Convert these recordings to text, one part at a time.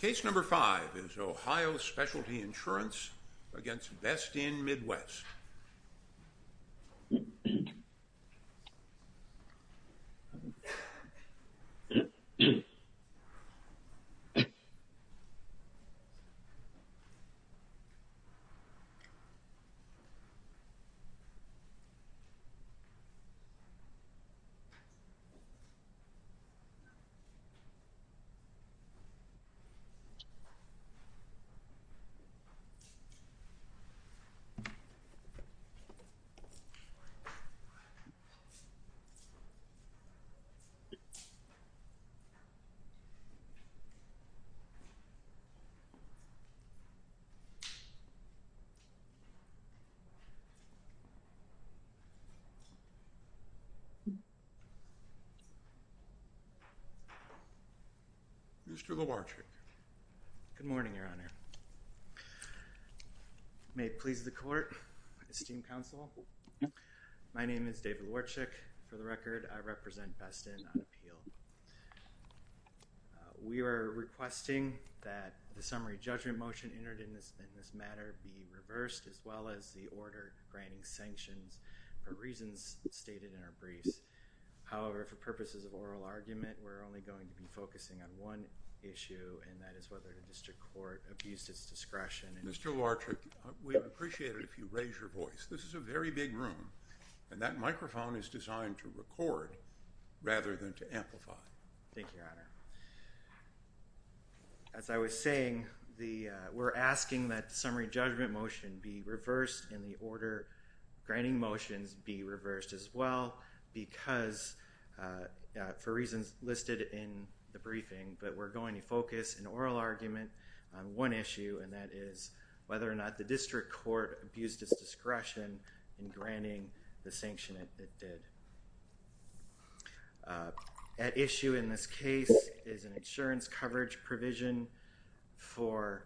Case number 5 is Ohio Specialty Insurance v. Best Inn Midwest. Case number 5 is Ohio Specialty Insurance v. Best Inn Midwest, LLC. Mr. Lewarchik. Good morning, Your Honor. May it please the court, esteemed counsel. My name is David Lewarchik. For the record, I represent Best Inn on appeal. We are requesting that the summary judgment motion entered in this matter be reversed as well as the order granting sanctions for reasons stated in our briefs. However, for purposes of oral argument, we're only going to be focusing on one issue, and that is whether the district court abused its discretion. Mr. Lewarchik, we'd appreciate it if you raise your voice. This is a very big room, and that microphone is designed to record rather than to amplify. Thank you, Your Honor. As I was saying, we're asking that the summary judgment motion be reversed in the order granting motions be reversed as well because for reasons listed in the briefing, but we're going to focus an oral argument on one issue, and that is whether or not the district court abused its discretion in granting the sanction it did. At issue in this case is an insurance coverage provision for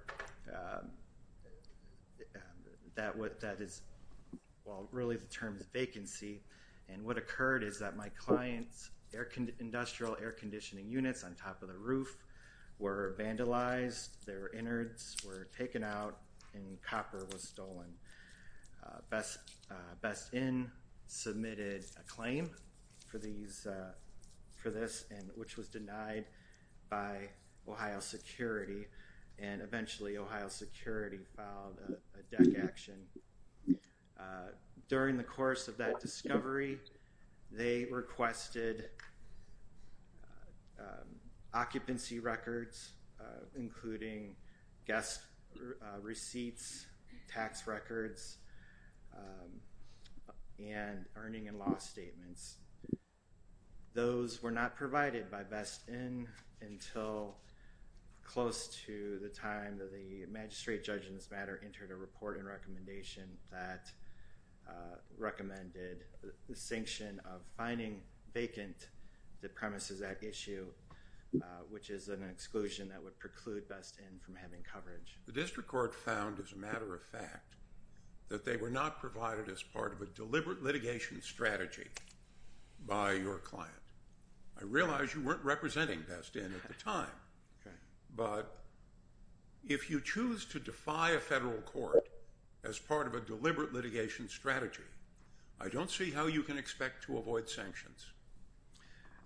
that is, well, really the term is vacancy, and what occurred is that my client's industrial air conditioning units on top of the roof were vandalized. Their innards were taken out, and copper was stolen. Best Inn submitted a claim for this, which was denied by Ohio Security, and eventually Ohio Security filed a deck action. During the course of that discovery, they requested occupancy records, including guest receipts, tax records, and earning and loss statements. Those were not provided by Best Inn until close to the time that the magistrate judge in this matter entered a report and recommendation that recommended the sanction of finding vacant the premises at issue, which is an exclusion that would preclude Best Inn from having coverage. The district court found, as a matter of fact, that they were not provided as part of a deliberate litigation strategy by your client. I realize you weren't representing Best Inn at the time, but if you choose to defy a federal court as part of a deliberate litigation strategy, I don't see how you can expect to avoid sanctions.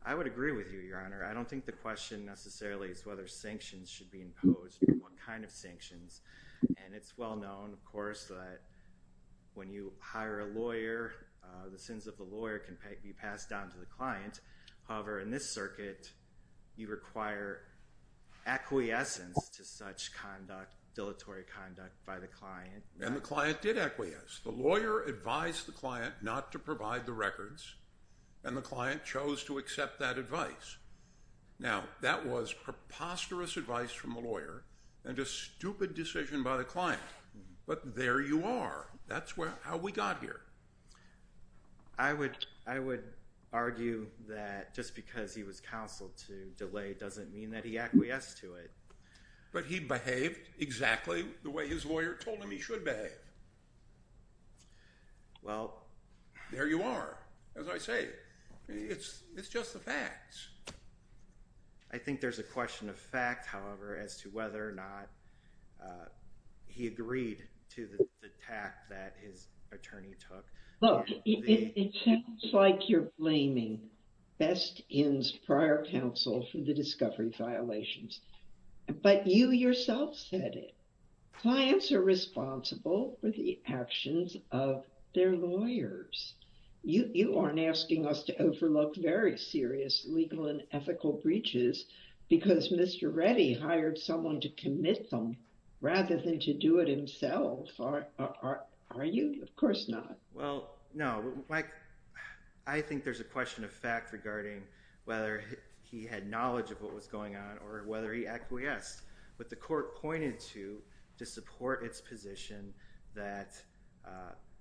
I would agree with you, Your Honor. I don't think the question necessarily is whether sanctions should be imposed or what kind of sanctions, and it's well known, of course, that when you hire a lawyer, the sins of the lawyer can be passed down to the client. However, in this circuit, you require acquiescence to such conduct, dilatory conduct by the client. And the client did acquiesce. The lawyer advised the client not to provide the records, and the client chose to accept that advice. Now, that was preposterous advice from the lawyer and a stupid decision by the client, but there you are. That's how we got here. I would argue that just because he was counseled to delay doesn't mean that he acquiesced to it. But he behaved exactly the way his lawyer told him he should behave. Well, there you are. As I say, it's just the facts. I think there's a question of fact, however, as to whether or not he agreed to the tact that his attorney took. Look, it sounds like you're blaming Best In's prior counsel for the discovery violations, but you yourself said it. Clients are responsible for the actions of their lawyers. You aren't asking us to overlook very serious legal and ethical breaches because Mr. Reddy hired someone to commit them rather than to do it himself, are you? Of course not. Well, no. I think there's a question of fact regarding whether he had knowledge of what was going on or whether he acquiesced. But the court pointed to, to support its position that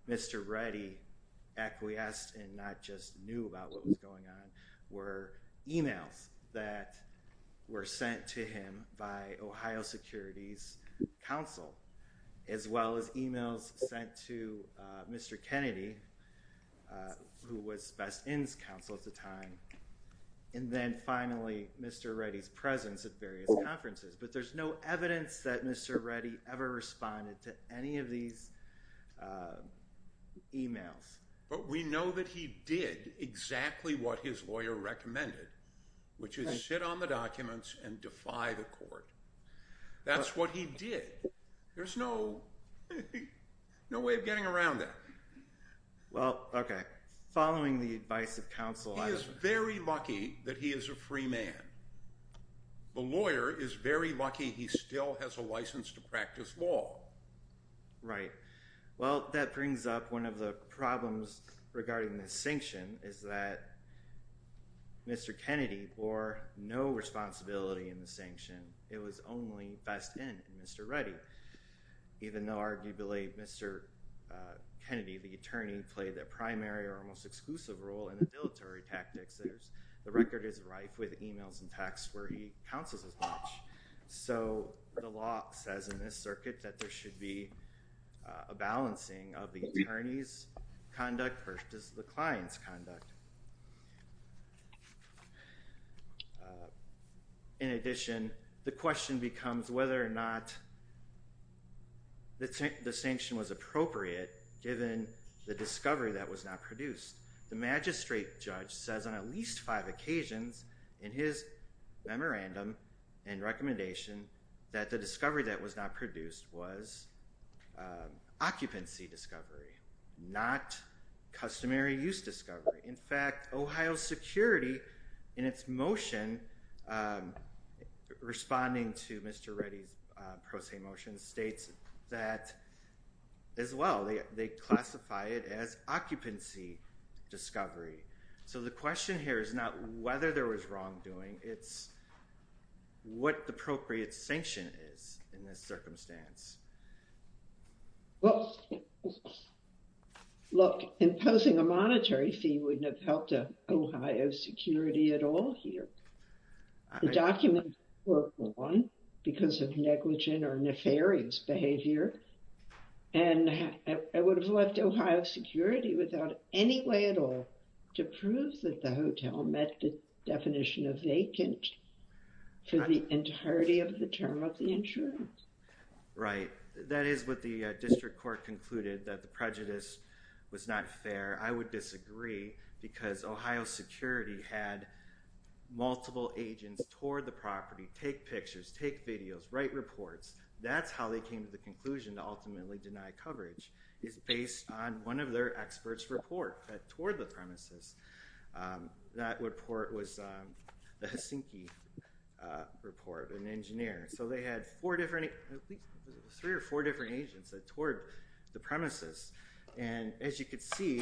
Mr. Reddy acquiesced and not just knew about what was going on, that were sent to him by Ohio Security's counsel, as well as emails sent to Mr. Kennedy, who was Best In's counsel at the time, and then finally Mr. Reddy's presence at various conferences. But there's no evidence that Mr. Reddy ever responded to any of these emails. But we know that he did exactly what his lawyer recommended, which is sit on the documents and defy the court. That's what he did. There's no way of getting around that. Well, okay. Following the advice of counsel, I would say. He is very lucky that he is a free man. The lawyer is very lucky he still has a license to practice law. Right. Well, that brings up one of the problems regarding the sanction, is that Mr. Kennedy bore no responsibility in the sanction. It was only Best In and Mr. Reddy. Even though, arguably, Mr. Kennedy, the attorney, played the primary or almost exclusive role in the dilatory tactics, the record is rife with emails and texts where he counsels as much. So the law says in this circuit that there should be a balancing of the attorney's conduct versus the client's conduct. In addition, the question becomes whether or not the sanction was appropriate, given the discovery that was not produced. The magistrate judge says on at least five occasions in his memorandum and recommendation that the discovery that was not produced was occupancy discovery, not customary use discovery. In fact, Ohio Security, in its motion responding to Mr. Reddy's pro se motion, states that as well, they classify it as occupancy discovery. So the question here is not whether there was wrongdoing, it's what the appropriate sanction is in this circumstance. Well, look, imposing a monetary fee wouldn't have helped Ohio Security at all here. The documents were gone because of negligent or nefarious behavior. And I would have left Ohio Security without any way at all to prove that the hotel met the definition of vacant for the entirety of the term of the insurance. Right. That is what the district court concluded, that the prejudice was not fair. I would disagree because Ohio Security had multiple agents tour the property, take pictures, take videos, write reports. That's how they came to the conclusion to ultimately deny coverage, is based on one of their experts' report that toured the premises. That report was the Helsinki report, an engineer. So they had three or four different agents that toured the premises. And as you can see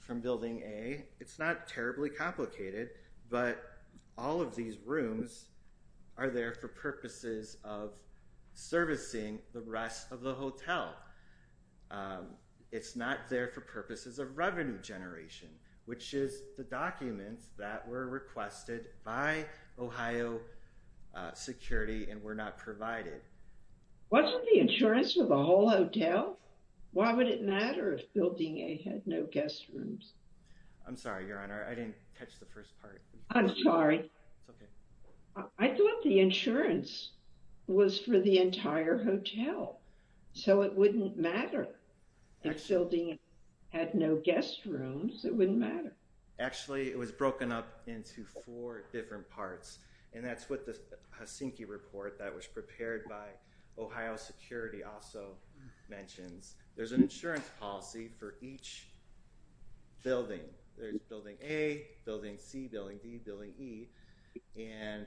from building A, it's not terribly complicated, but all of these rooms are there for purposes of servicing the rest of the hotel. It's not there for purposes of revenue generation, which is the documents that were requested by Ohio Security and were not provided. Wasn't the insurance for the whole hotel? Why would it matter if building A had no guest rooms? I'm sorry, Your Honor, I didn't catch the first part. I'm sorry. It's okay. I thought the insurance was for the entire hotel, so it wouldn't matter if building A had no guest rooms. It wouldn't matter. Actually, it was broken up into four different parts, and that's what the Helsinki report that was prepared by Ohio Security also mentions. There's an insurance policy for each building. There's building A, building C, building D, building E. And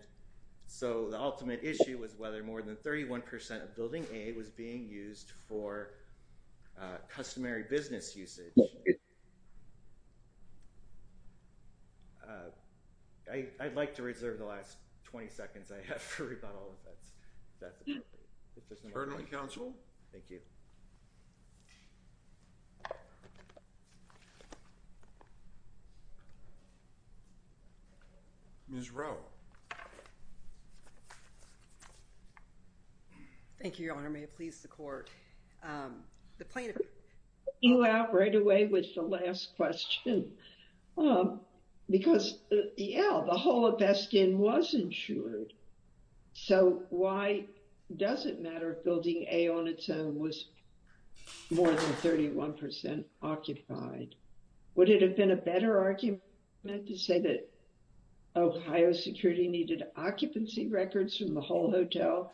so the ultimate issue was whether more than 31% of building A was being used for customary business usage. I'd like to reserve the last 20 seconds I have for rebuttal, if that's appropriate. Thank you. Ms. Rowe. Thank you, Your Honor. May it please the court. You out right away with the last question. Because, yeah, the whole of Beskin was insured. So why does it matter if building A on its own was more than 31% occupied? Would it have been a better argument to say that Ohio Security needed occupancy records from the whole hotel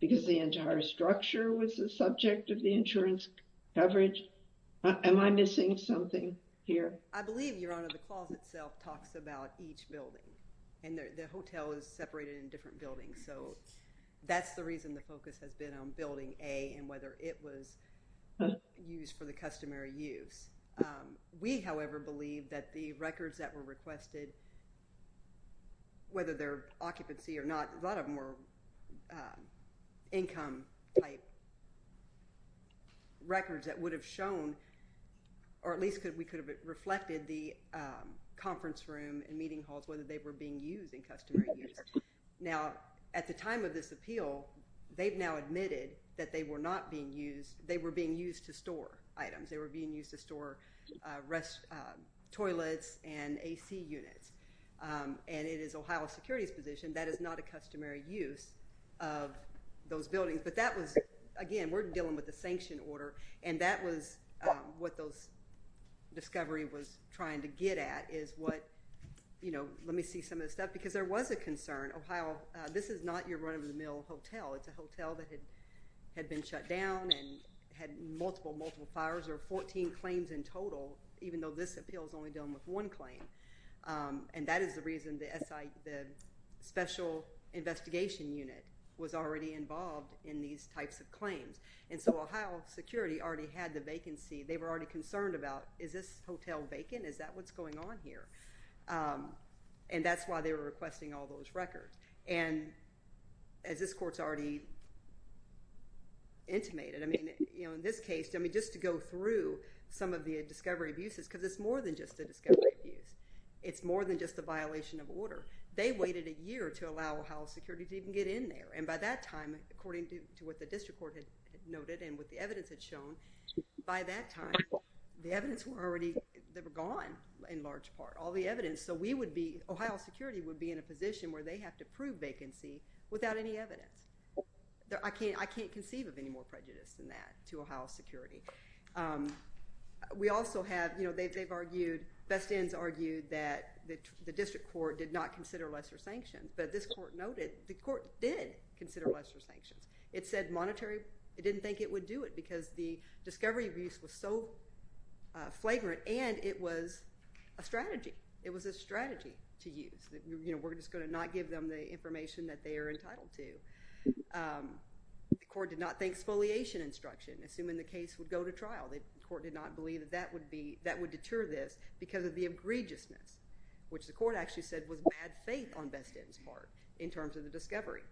because the entire structure was the subject of the insurance coverage? Am I missing something here? I believe, Your Honor, the clause itself talks about each building. And the hotel is separated in different buildings. So that's the reason the focus has been on building A and whether it was used for the customary use. We, however, believe that the records that were requested, whether they're occupancy or not, a lot of them were income-type records that would have shown, or at least we could have reflected the conference room and meeting halls, whether they were being used in customary use. Now, at the time of this appeal, they've now admitted that they were not being used. They were being used to store items. They were being used to store toilets and A.C. units. And it is Ohio Security's position that is not a customary use of those buildings. But that was, again, we're dealing with a sanction order. And that was what those discovery was trying to get at is what, you know, let me see some of the stuff. Because there was a concern. Ohio, this is not your run-of-the-mill hotel. It's a hotel that had been shut down and had multiple, multiple fires. There were 14 claims in total, even though this appeal is only dealing with one claim. And that is the reason the special investigation unit was already involved in these types of claims. And so Ohio Security already had the vacancy. They were already concerned about is this hotel vacant? Is that what's going on here? And that's why they were requesting all those records. And as this court's already intimated, I mean, you know, in this case, just to go through some of the discovery abuses, because it's more than just a discovery abuse. It's more than just a violation of order. They waited a year to allow Ohio Security to even get in there. And by that time, according to what the district court had noted and what the evidence had shown, by that time, the evidence were already, they were gone in large part, all the evidence. So we would be, Ohio Security would be in a position where they have to prove vacancy without any evidence. I can't conceive of any more prejudice than that to Ohio Security. We also have, you know, they've argued, Best Ends argued that the district court did not consider lesser sanctions. But this court noted the court did consider lesser sanctions. It said monetary. It didn't think it would do it because the discovery abuse was so flagrant, and it was a strategy. It was a strategy to use. You know, we're just going to not give them the information that they are entitled to. The court did not think exfoliation instruction, assuming the case would go to trial. The court did not believe that that would be, that would deter this because of the egregiousness, which the court actually said was bad faith on Best Ends' part in terms of the discovery.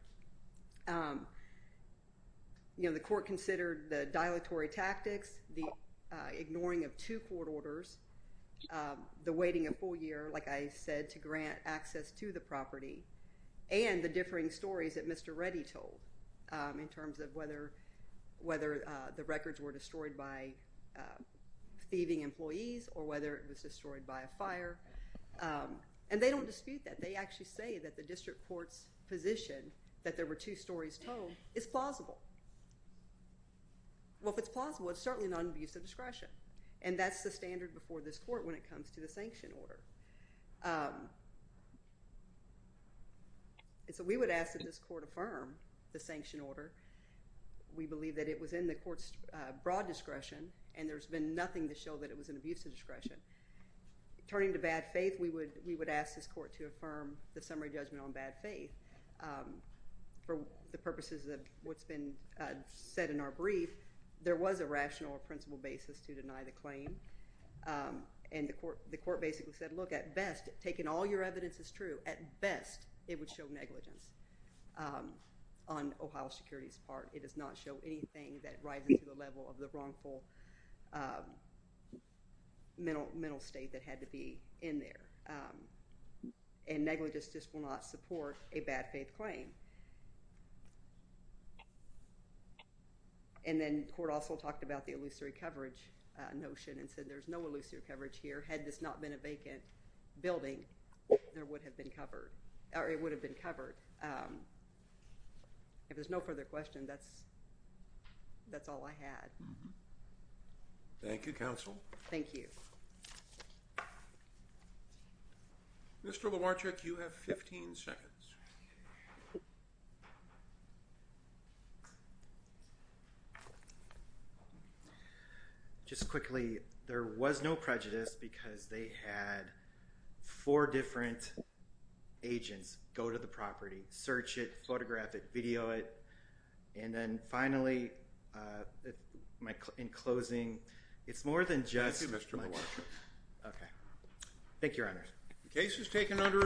You know, the court considered the dilatory tactics, the ignoring of two court orders, the waiting a full year, like I said, to grant access to the property, and the differing stories that Mr. Reddy told in terms of whether the records were destroyed by thieving employees or whether it was destroyed by a fire. And they don't dispute that. They actually say that the district court's position that there were two stories told is plausible. Well, if it's plausible, it's certainly non-abusive discretion, and that's the standard before this court when it comes to the sanction order. So we would ask that this court affirm the sanction order. We believe that it was in the court's broad discretion, and there's been nothing to show that it was an abusive discretion. Turning to bad faith, we would ask this court to affirm the summary judgment on bad faith. For the purposes of what's been said in our brief, there was a rational or principled basis to deny the claim. And the court basically said, look, at best, taking all your evidence as true, at best it would show negligence on Ohio Security's part. It does not show anything that rises to the level of the wrongful mental state that had to be in there. And negligence just will not support a bad faith claim. And then the court also talked about the illusory coverage notion and said there's no illusory coverage here. Had this not been a vacant building, it would have been covered. If there's no further question, that's all I had. Thank you, counsel. Thank you. Mr. Lomarczyk, you have 15 seconds. Just quickly, there was no prejudice because they had four different agents go to the property, search it, photograph it, video it. And then finally, in closing, it's more than just... Thank you, Mr. Lomarczyk. Okay. Thank you, Your Honor. The case is taken under advisement.